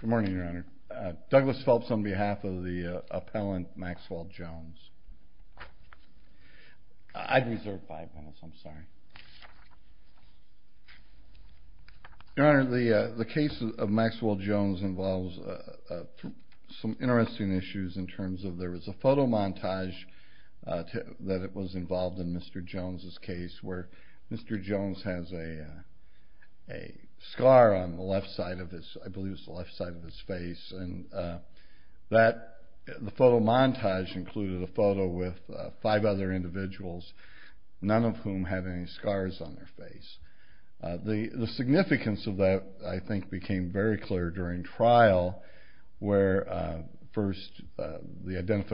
Good morning Your Honor. Douglas Phelps on behalf of the appellant Maxwell Jones. I reserve five minutes, I'm sorry. Your Honor, the case of Maxwell Jones involves some interesting issues in terms of there was a photo montage that was involved in Mr. Jones' case where Mr. Jones has a scar on the left side of his, I believe it's the left side of his face. The photo montage included a photo with five other individuals, none of whom had any scars on their face. The significance of that I think became very clear during trial where first the attempt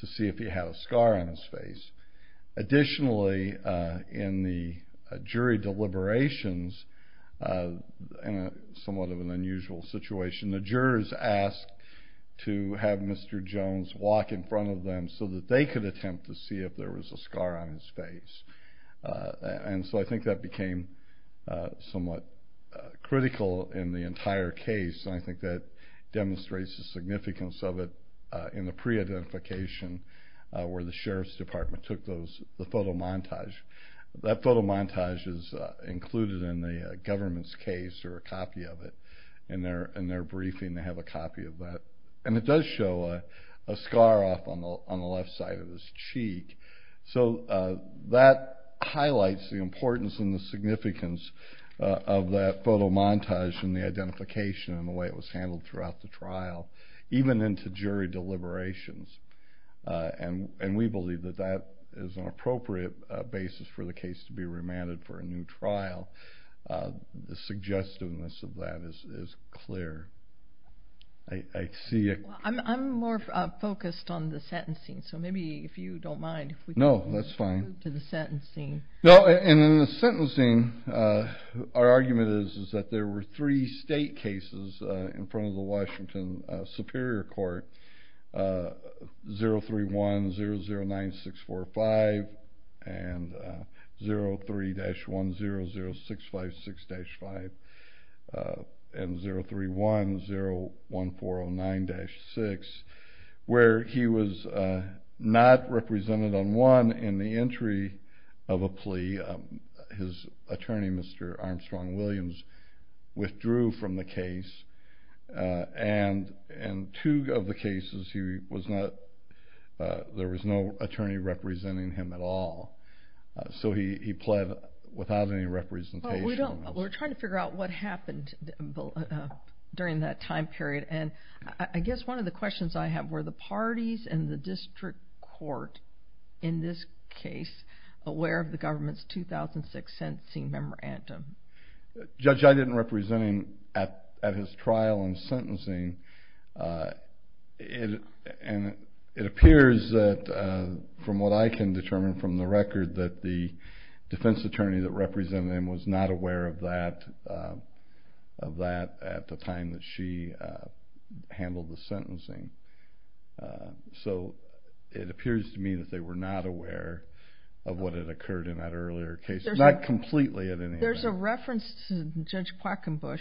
to see if he had a scar on his face. Additionally, in the jury deliberations, somewhat of an unusual situation, the jurors asked to have Mr. Jones walk in front of them so that they could attempt to see if there was a scar on his face. And so I think that became somewhat critical in the entire case and I think that demonstrates the significance of it in the pre-identification where the sheriff's department took the photo montage. That photo montage is included in the government's case or a copy of it. In their briefing they have a copy of that and it does show a scar off on the left side of his throughout the trial, even into jury deliberations. And we believe that that is an appropriate basis for the case to be remanded for a new trial. The Washington Superior Court 031-009-645 and 03-100-656-5 and 031-01409-6 where he was not represented on one in the entry of a plea. His attorney, Mr. Armstrong Williams, withdrew from the case and in two of the cases there was no attorney representing him at all. So he pled without any representation. We're trying to figure out what happened during that time period and I guess one of the questions I have is were the parties and the district court in this case aware of the government's 2006 sentencing memorandum? Judge, I didn't represent him at his trial and sentencing and it appears that from what I can determine from the record that the defense attorney that represented him was not aware of that at the time that she handled the sentencing. So it appears to me that they were not aware of what had occurred in that earlier case. Not completely in any way. There's a reference to Judge Quackenbush.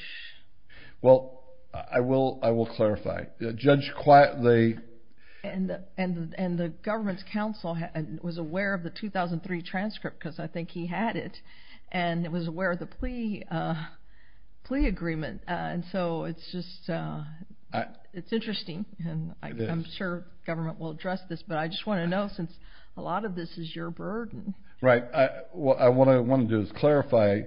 Well, I will clarify. Judge Quackenbush. And the government's counsel was aware of the 2003 transcript because I think he had it. And it was aware of the plea agreement and so it's just it's interesting and I'm sure government will address this but I just want to know since a lot of this is your burden. Right. What I want to do is clarify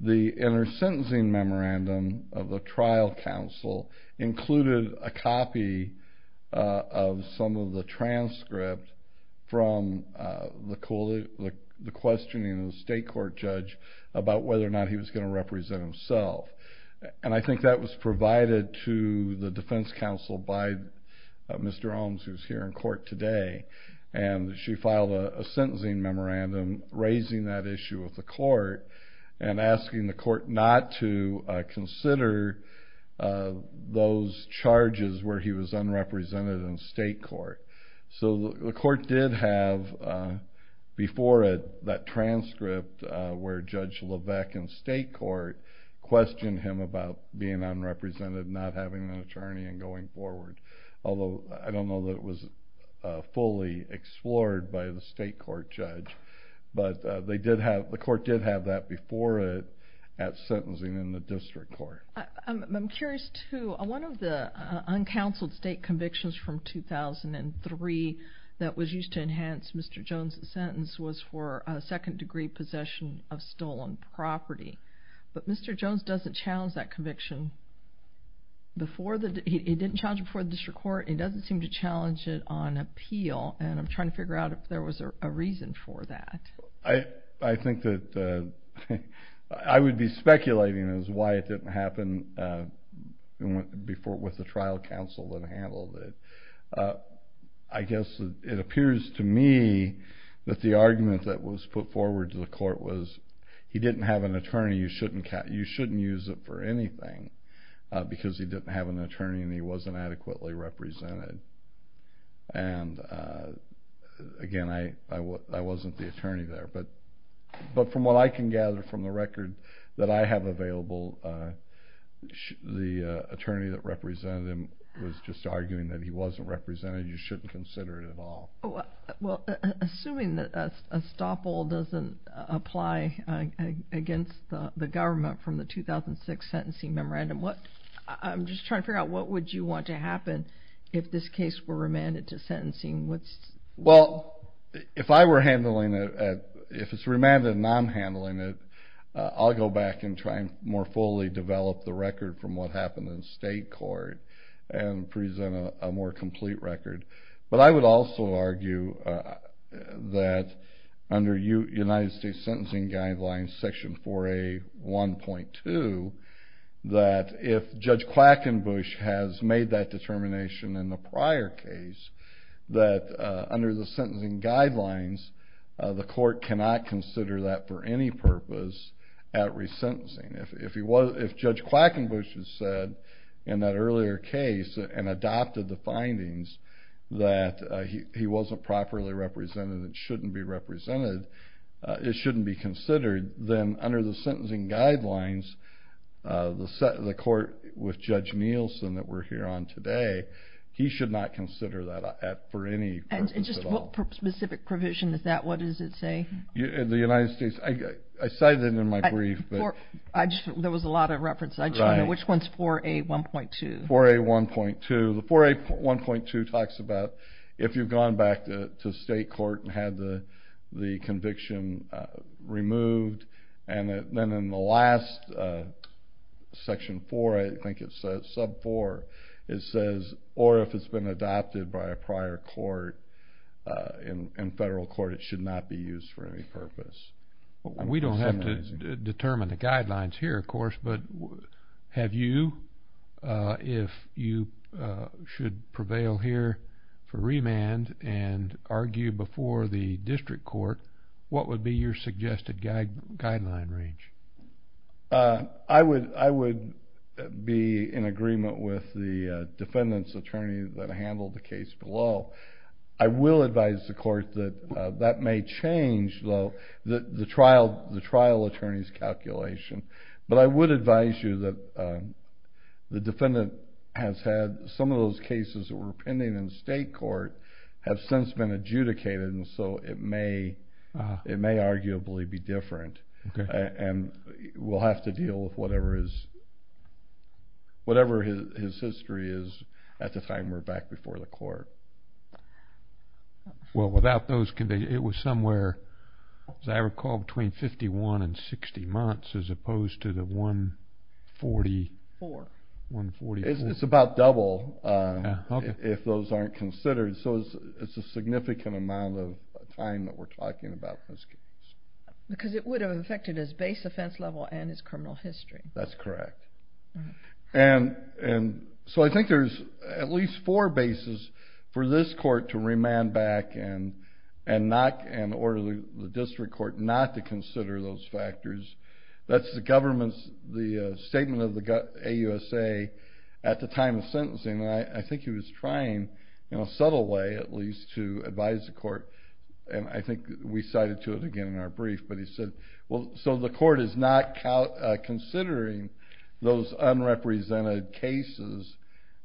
the inner sentencing memorandum of the trial counsel included a copy of some of the transcript from the questioning of the state court judge about whether or not he was going to represent himself. And I think that was provided to the defense counsel by Mr. Holmes who's here in court today. And she filed a sentencing memorandum raising that issue with the court and asking the court not to consider those charges where he was unrepresented in state court. So the court did have before it that transcript where Judge Levesque in state court questioned him about being unrepresented not having an attorney and going forward. Although I don't know that it was fully explored by the state court judge. But they did have the court did have that before it at sentencing in the district court. I'm curious too. One of the uncounseled state convictions from 2003 that was used to enhance Mr. Jones' sentence was for a second degree possession of stolen property. But Mr. Jones doesn't challenge that conviction. He didn't challenge it before the district court. He doesn't seem to challenge it on appeal and I'm trying to figure out if there was a reason for that. I think that I would be speculating as to why it didn't happen before with the trial counsel that handled it. I guess it appears to me that the argument that was put forward to the court was he didn't have an attorney. You shouldn't use it for anything because he didn't have an attorney and he wasn't adequately represented. And again I wasn't the attorney there. But from what I can gather from the record that I have available the attorney that represented him was just arguing that he wasn't represented. You shouldn't consider it at all. Assuming that a stop all doesn't apply against the government from the 2006 sentencing memorandum. I'm just trying to figure out what would you want to happen if this case were remanded to sentencing? Well if I were handling it, if it's remanded and I'm handling it, I'll go back and try and more fully develop the record from what happened in state court and present a more complete record. But I would also argue that under United States sentencing guidelines section 4A 1.2 that if Judge Quackenbush has made that determination in the prior case that under the sentencing guidelines the court cannot consider that for any purpose at resentencing. If Judge Quackenbush has said in that earlier case and adopted the findings that he wasn't properly represented, it shouldn't be represented, it shouldn't be considered, then under the sentencing guidelines the court with Judge Nielsen that we're here on today, he should not consider that at all. And just what specific provision is that? What does it say? The United States, I cited it in my brief. There was a lot of reference. I just want to know which one is 4A 1.2? The 4A 1.2 talks about if you've gone back to state court and had the conviction removed and then in the last section 4, I think it's sub 4, it says or if it's been adopted by a prior court in federal court it should not be used for any purpose. We don't have to determine the guidelines here, of course, but have you, if you should prevail here for remand and argue before the district court, what would be your suggested guideline range? I would be in agreement with the defendant's attorney that handled the case below. I will advise the court that that may change the trial attorney's calculation, but I would advise you that the defendant has had some of those cases that were pending in state court have since been adjudicated and so it may arguably be different. And we'll have to deal with whatever his history is at the time we're back before the court. Well, without those conditions, it was somewhere, as I recall, between 51 and 60 months as opposed to the 144. It's about double if those aren't considered. So it's a significant amount of time that we're talking about in this case. Because it would have affected his base offense level and his criminal history. That's correct. And so I think there's at least four bases for this court to remand back and order the district court not to consider those factors. That's the government's statement of the AUSA at the time of sentencing, and I think he was trying, in a subtle way at least, to advise the court. And I think we cited to it again in our brief, but he said, well, so the court is not considering those unrepresented cases.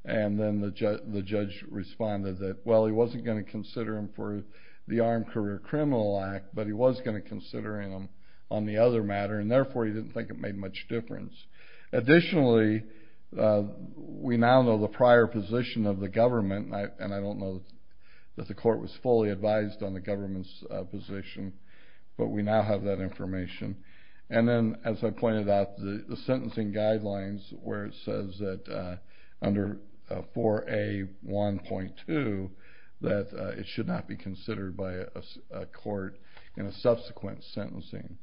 And then the judge responded that, well, he wasn't going to consider them for the Armed Career Criminal Act, but he was going to consider them on the other matter. And therefore, he didn't think it made much difference. Additionally, we now know the prior position of the government, and I don't know that the court was fully advised on the government's position, but we now have that information. And then, as I pointed out, the sentencing guidelines, where it says that under 4A.1.2, that it should not be considered by a court in a subsequent sentencing.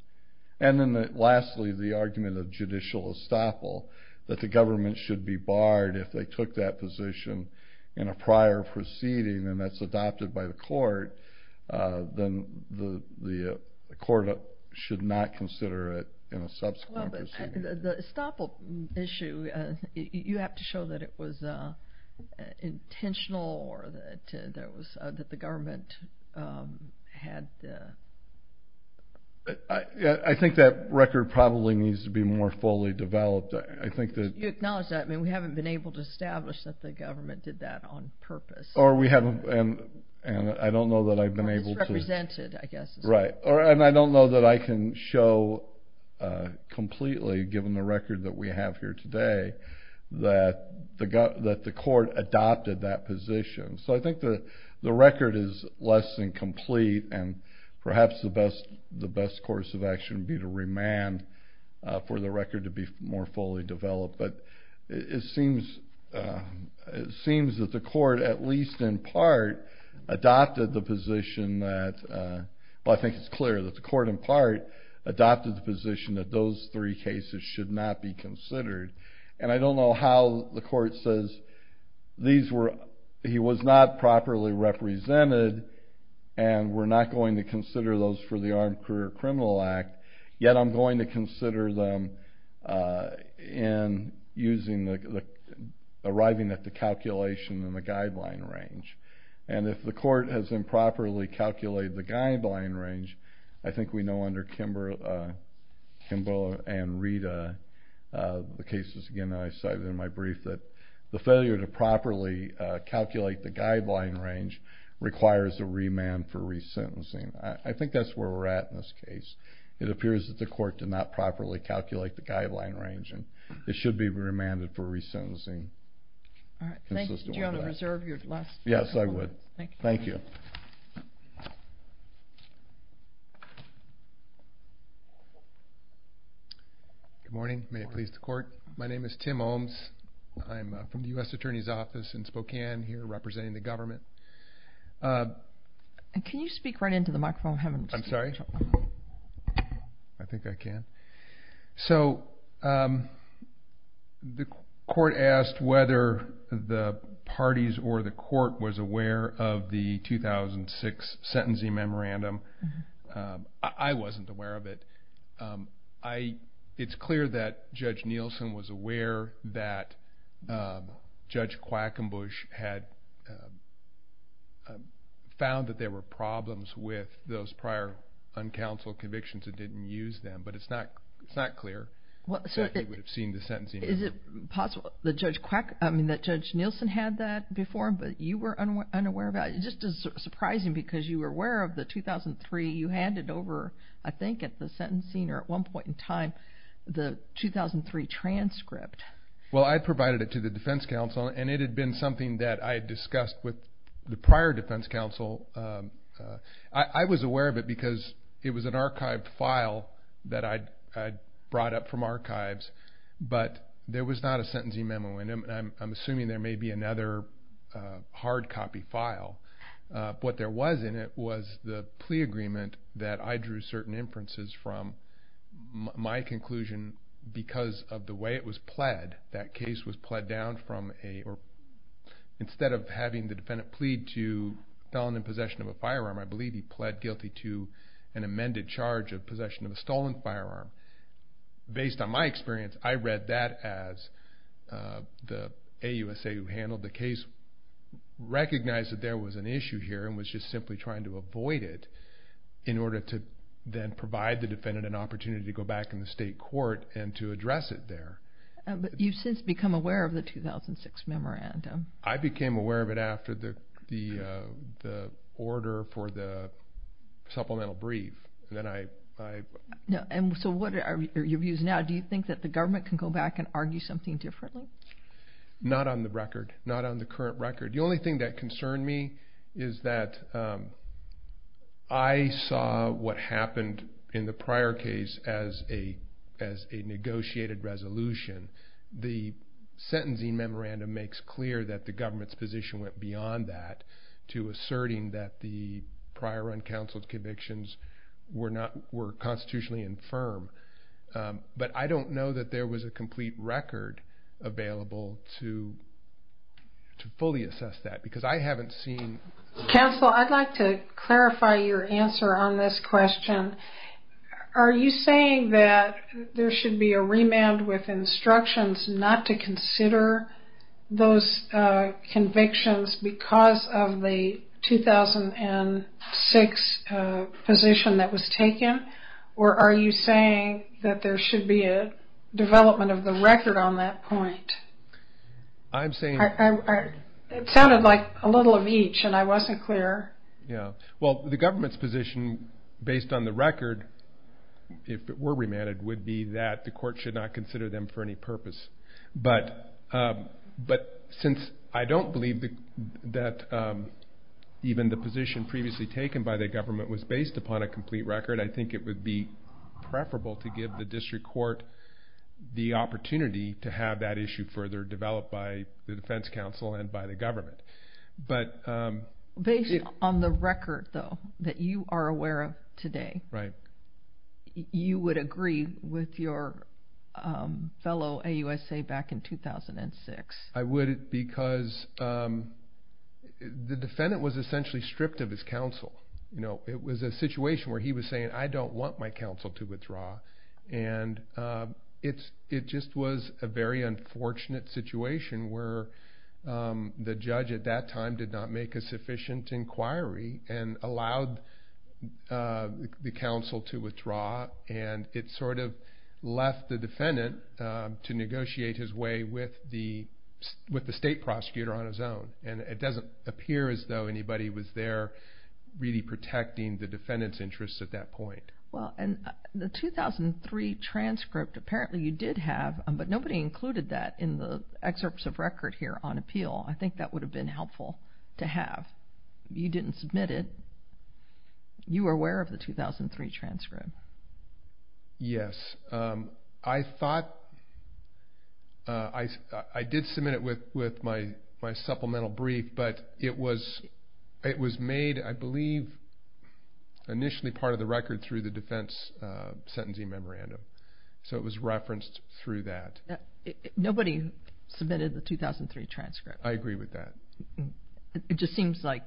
And then lastly, the argument of judicial estoppel, that the government should be barred if they took that position in a prior proceeding, and that's adopted by the court, then the court should not consider it in a subsequent proceeding. Well, but the estoppel issue, you have to show that it was intentional, or that the government had... I think that record probably needs to be more fully developed. I think that... You acknowledge that? I mean, we haven't been able to establish that the government did that on purpose. Or we haven't... And I don't know that I've been able to... Or misrepresented, I guess. Right. And I don't know that I can show completely, given the record that we have here today, that the court adopted that position. So I think the record is less than complete, and perhaps the best course of action would be to remand for the record to be more fully developed. But it seems that the court, at least in part, adopted the position that... Well, I think it's clear that the court, in part, adopted the position that those three cases should not be considered. And I don't know how the court says, he was not properly represented, and we're not going to consider those for the Armed Career Criminal Act, yet I'm going to consider them in using the... Arriving at the calculation and the guideline range. And if the court has improperly calculated the guideline range, I think we know under Kimball and Rita, the cases, again, I cited in my brief that the failure to properly calculate the guideline range requires a remand for resentencing. I think that's where we're at in this case. It appears that the court did not properly calculate the guideline range, and it should be remanded for resentencing. Do you want to reserve your last... Yes, I would. Thank you. Good morning. May it please the court. My name is Tim Olms. I'm from the U.S. Attorney's Office in Spokane, here representing the government. Can you speak right into the microphone? I'm sorry? I think I can. So, the court asked whether the parties or the court was aware of the 2006 sentencing memorandum. I wasn't aware of it. It's clear that Judge Nielsen was aware that Judge Quackenbush had found that there were problems with those prior uncounseled convictions and didn't use them, but it's not clear that he would have seen the sentencing. Is it possible that Judge Nielsen had that before, but you were unaware of that? It just is surprising because you were aware of the 2003. You handed over, I think at the sentencing or at one point in time, the 2003 transcript. Well, I provided it to the defense counsel, and it had been something that I had discussed with the prior defense counsel. I was aware of it because it was an archived file that I'd brought up from archives, but there was not a sentencing memo. I'm assuming there may be another hard copy file. What there was in it was the plea agreement that I drew certain inferences from. My conclusion, because of the way it was pled, that case was pled down from a, or instead of having the defendant plead to felony possession of a firearm, I believe he pled guilty to an amended charge of possession of a stolen firearm. Based on my experience, I read that as the AUSA who handled the case recognized that there was an issue here and was just simply trying to avoid it in order to then provide the defendant an opportunity to go back in the state court and to address it there. You've since become aware of the 2006 memorandum. I became aware of it after the order for the supplemental brief. What are your views now? Do you think that the government can go back and argue something differently? Not on the record, not on the current record. The only thing that concerned me is that I saw what happened in the prior case as a negotiated resolution. The sentencing memorandum makes clear that the government's position went beyond that to asserting that the prior uncounseled convictions were constitutionally infirm. But I don't know that there was a complete record available to fully assess that because I haven't seen. Counsel, I'd like to clarify your answer on this question. Are you saying that there should be a remand with instructions not to consider those convictions because of the 2006 position that was taken? Or are you saying that there should be a development of the record on that point? It sounded like a little of each and I wasn't clear. Well, the government's position based on the record, if it were remanded, would be that the court should not consider them for any purpose. But since I don't believe that even the position previously taken by the government was based upon a complete record, I think it would be preferable to give the district court the opportunity to have that issue further developed by the defense counsel and by the government. Based on the record, though, that you are aware of today, you would agree with your fellow AUSA back in 2006? I would because the defendant was essentially stripped of his counsel. It was a situation where he was saying, I don't want my counsel to withdraw. And it just was a very unfortunate situation where the judge at that time did not make a sufficient inquiry and allowed the counsel to withdraw. And it sort of left the defendant to negotiate his way with the state prosecutor on his own. And it doesn't appear as though anybody was there really protecting the defendant's interests at that point. Well, and the 2003 transcript, apparently you did have, but nobody included that in the excerpts of record here on appeal. I think that would have been helpful to have. You didn't submit it. You were aware of the 2003 transcript. Yes. I thought, I did submit it with my supplemental brief, but it was made, I believe, initially part of the record through the defense sentencing memorandum. So it was referenced through that. Nobody submitted the 2003 transcript. I agree with that. It just seems like,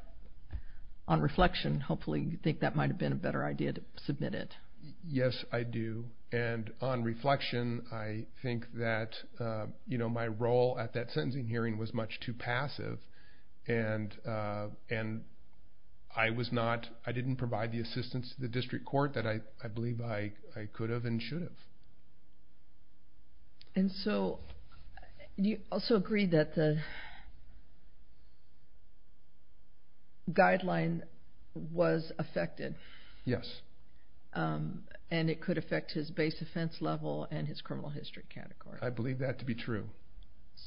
on reflection, hopefully you think that might have been a better idea to submit it. Yes, I do. And on reflection, I think that my role at that sentencing hearing was much too passive, and I didn't provide the assistance to the district court that I believe I could have and should have. And so you also agree that the guideline was affected. Yes. And it could affect his base offense level and his criminal history category. I believe that to be true.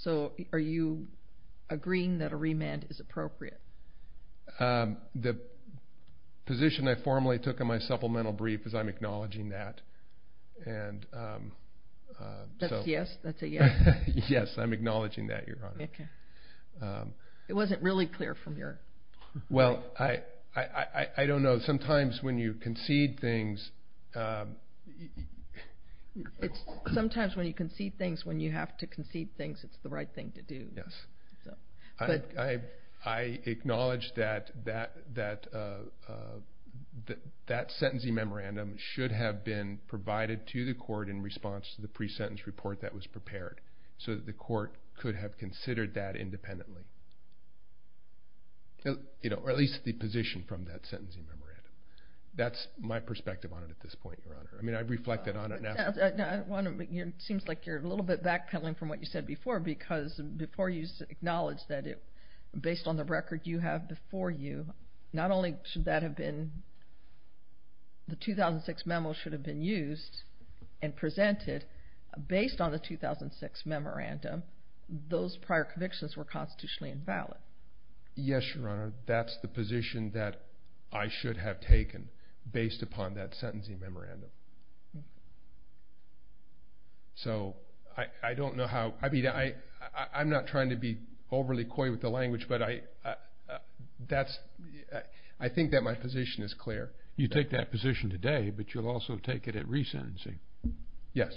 So are you agreeing that a remand is appropriate? The position I formally took in my supplemental brief is I'm acknowledging that. That's a yes? Yes, I'm acknowledging that, Your Honor. Okay. It wasn't really clear from your point. Well, I don't know. Sometimes when you concede things. Sometimes when you concede things, when you have to concede things, it's the right thing to do. Yes. I acknowledge that that sentencing memorandum should have been provided to the court in response to the pre-sentence report that was prepared so that the court could have considered that independently, or at least the position from that sentencing memorandum. That's my perspective on it at this point, Your Honor. I mean, I've reflected on it now. It seems like you're a little bit back-pedaling from what you said before, because before you acknowledged that based on the record you have before you, not only should that have been the 2006 memo should have been used and presented, based on the 2006 memorandum, those prior convictions were constitutionally invalid. Yes, Your Honor. That's the position that I should have taken based upon that sentencing memorandum. So I don't know how. I mean, I'm not trying to be overly coy with the language, but I think that my position is clear. You take that position today, but you'll also take it at resentencing. Yes.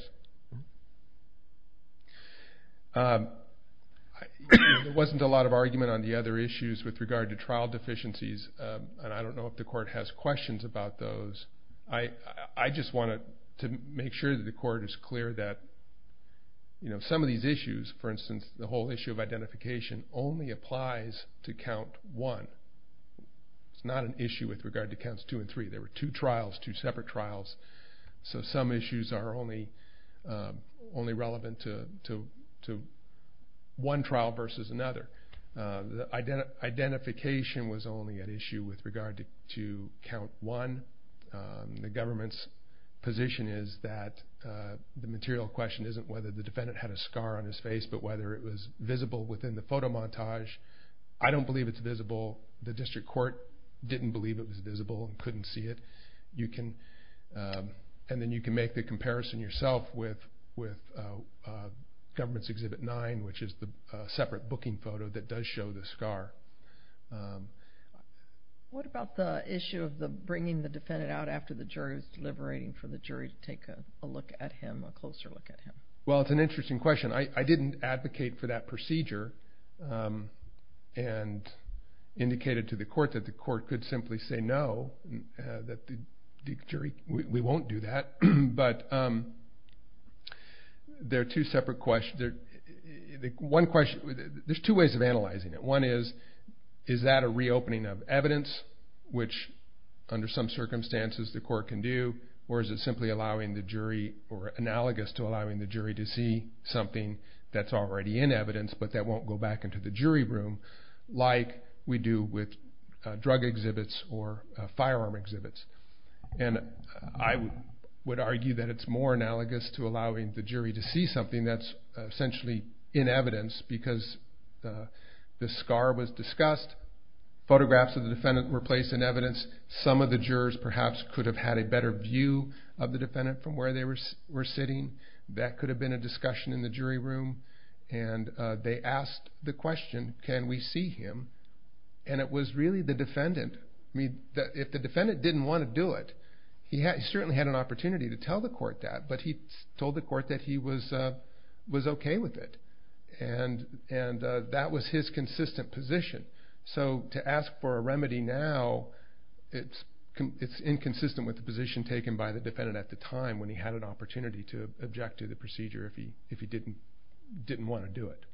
There wasn't a lot of argument on the other issues with regard to trial deficiencies, and I don't know if the court has questions about those. I just wanted to make sure that the court is clear that some of these issues, for instance, the whole issue of identification only applies to count one. It's not an issue with regard to counts two and three. There were two trials, two separate trials. So some issues are only relevant to one trial versus another. Identification was only an issue with regard to count one. The government's position is that the material question isn't whether the defendant had a scar on his face, but whether it was visible within the photo montage. I don't believe it's visible. The district court didn't believe it was visible and couldn't see it. And then you can make the comparison yourself with government's exhibit nine, which is the separate booking photo that does show the scar. What about the issue of bringing the defendant out after the jury is deliberating for the jury to take a look at him, a closer look at him? Well, it's an interesting question. I didn't advocate for that procedure and indicated to the court that the court could simply say no, that the jury, we won't do that. But there are two separate questions. One question, there's two ways of analyzing it. One is, is that a reopening of evidence, which under some circumstances the court can do, or is it simply allowing the jury or analogous to allowing the jury to see something that's already in evidence but that won't go back into the jury room, like we do with drug exhibits or firearm exhibits. And I would argue that it's more analogous to allowing the jury to see something that's essentially in evidence because the scar was discussed, photographs of the defendant were placed in evidence, some of the jurors perhaps could have had a better view of the defendant from where they were sitting. That could have been a discussion in the jury room, and they asked the question, can we see him? And it was really the defendant. I mean, if the defendant didn't want to do it, he certainly had an opportunity to tell the court that, but he told the court that he was okay with it, and that was his consistent position. So to ask for a remedy now, it's inconsistent with the position taken by the defendant at the time when he had an opportunity to object to the procedure if he didn't want to do it.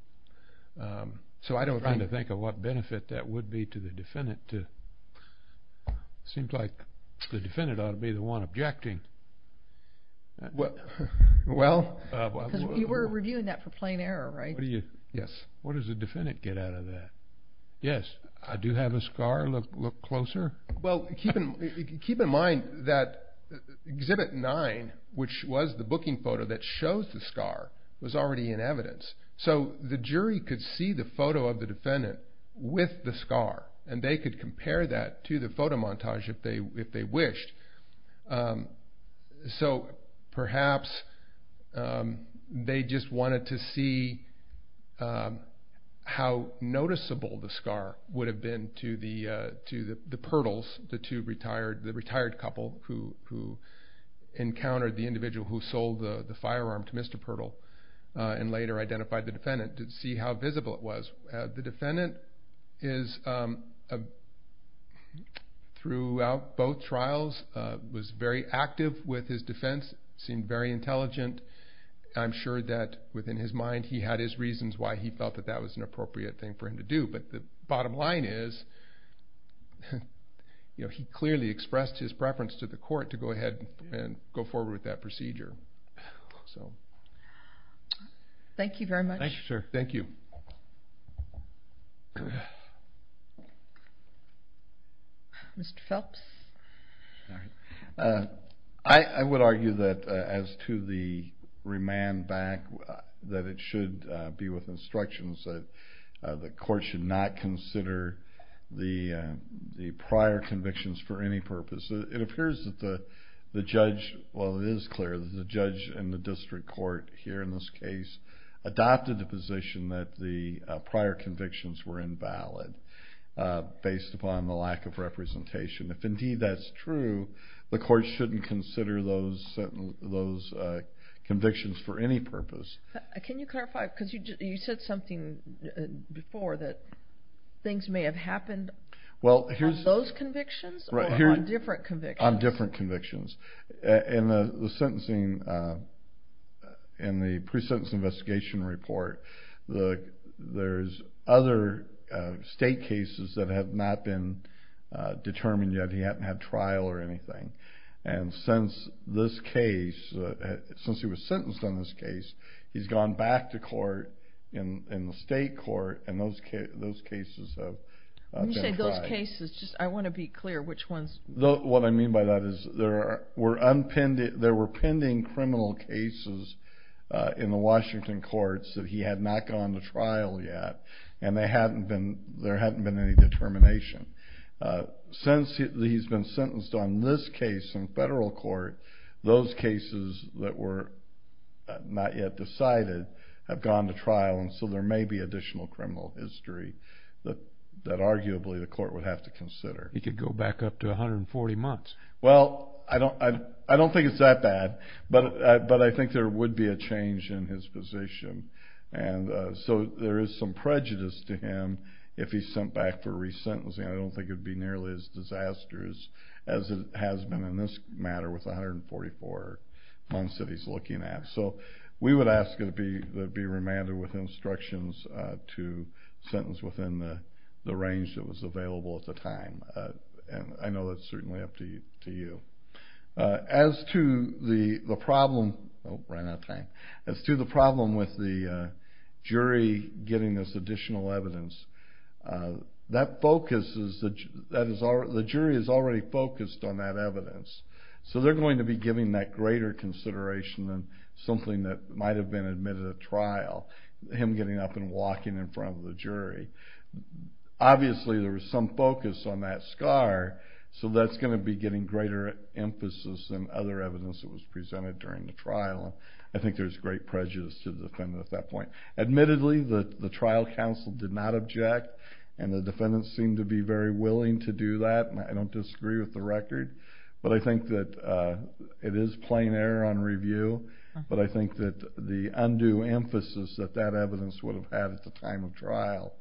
I'm trying to think of what benefit that would be to the defendant. It seems like the defendant ought to be the one objecting. Well, because we were reviewing that for plain error, right? Yes. What does the defendant get out of that? Yes, I do have a scar, look closer. Well, keep in mind that Exhibit 9, which was the booking photo that shows the scar, was already in evidence. So the jury could see the photo of the defendant with the scar, and they could compare that to the photo montage if they wished. So perhaps they just wanted to see how noticeable the scar would have been to the Pirtles, the retired couple who encountered the individual who sold the firearm to Mr. Pirtle and later identified the defendant, to see how visible it was. The defendant, throughout both trials, was very active with his defense, seemed very intelligent. I'm sure that within his mind he had his reasons why he felt that that was an appropriate thing for him to do. But the bottom line is he clearly expressed his preference to the court to go ahead and go forward with that procedure. Thank you very much. Thank you, sir. Mr. Phelps? I would argue that as to the remand back, that it should be with instructions that the court should not consider the prior convictions for any purpose. It appears that the judge, well, it is clear that the judge in the district court here in this case adopted the position that the prior convictions were invalid based upon the lack of representation. If indeed that's true, the court shouldn't consider those convictions for any purpose. Can you clarify? Because you said something before that things may have happened on those convictions or on different convictions? On different convictions. In the sentencing, in the pre-sentence investigation report, there's other state cases that have not been determined yet. He hasn't had trial or anything. And since this case, since he was sentenced on this case, he's gone back to court in the state court and those cases have been tried. When you say those cases, I want to be clear which ones. What I mean by that is there were pending criminal cases in the Washington courts that he had not gone to trial yet and there hadn't been any determination. Since he's been sentenced on this case in federal court, those cases that were not yet decided have gone to trial, and so there may be additional criminal history that arguably the court would have to consider. He could go back up to 140 months. Well, I don't think it's that bad, but I think there would be a change in his position. And so there is some prejudice to him if he's sent back for resentencing. I don't think it would be nearly as disastrous as it has been in this matter with 144 months that he's looking at. So we would ask that it be remanded with instructions to sentence within the range that was available at the time, and I know that's certainly up to you. As to the problem with the jury getting this additional evidence, the jury is already focused on that evidence, so they're going to be giving that greater consideration than something that might have been admitted at trial, him getting up and walking in front of the jury. Obviously there was some focus on that scar, so that's going to be getting greater emphasis than other evidence that was presented during the trial, and I think there's great prejudice to the defendant at that point. Admittedly, the trial counsel did not object, and the defendant seemed to be very willing to do that, and I don't disagree with the record, but I think that it is plain error on review, but I think that the undue emphasis that that evidence would have had at the time of trial,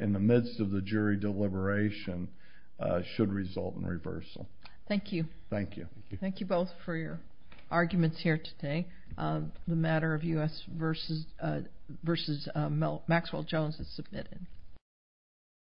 in the midst of the jury deliberation, should result in reversal. Thank you. Thank you. Thank you both for your arguments here today. The matter of U.S. v. Maxwell Jones is submitted.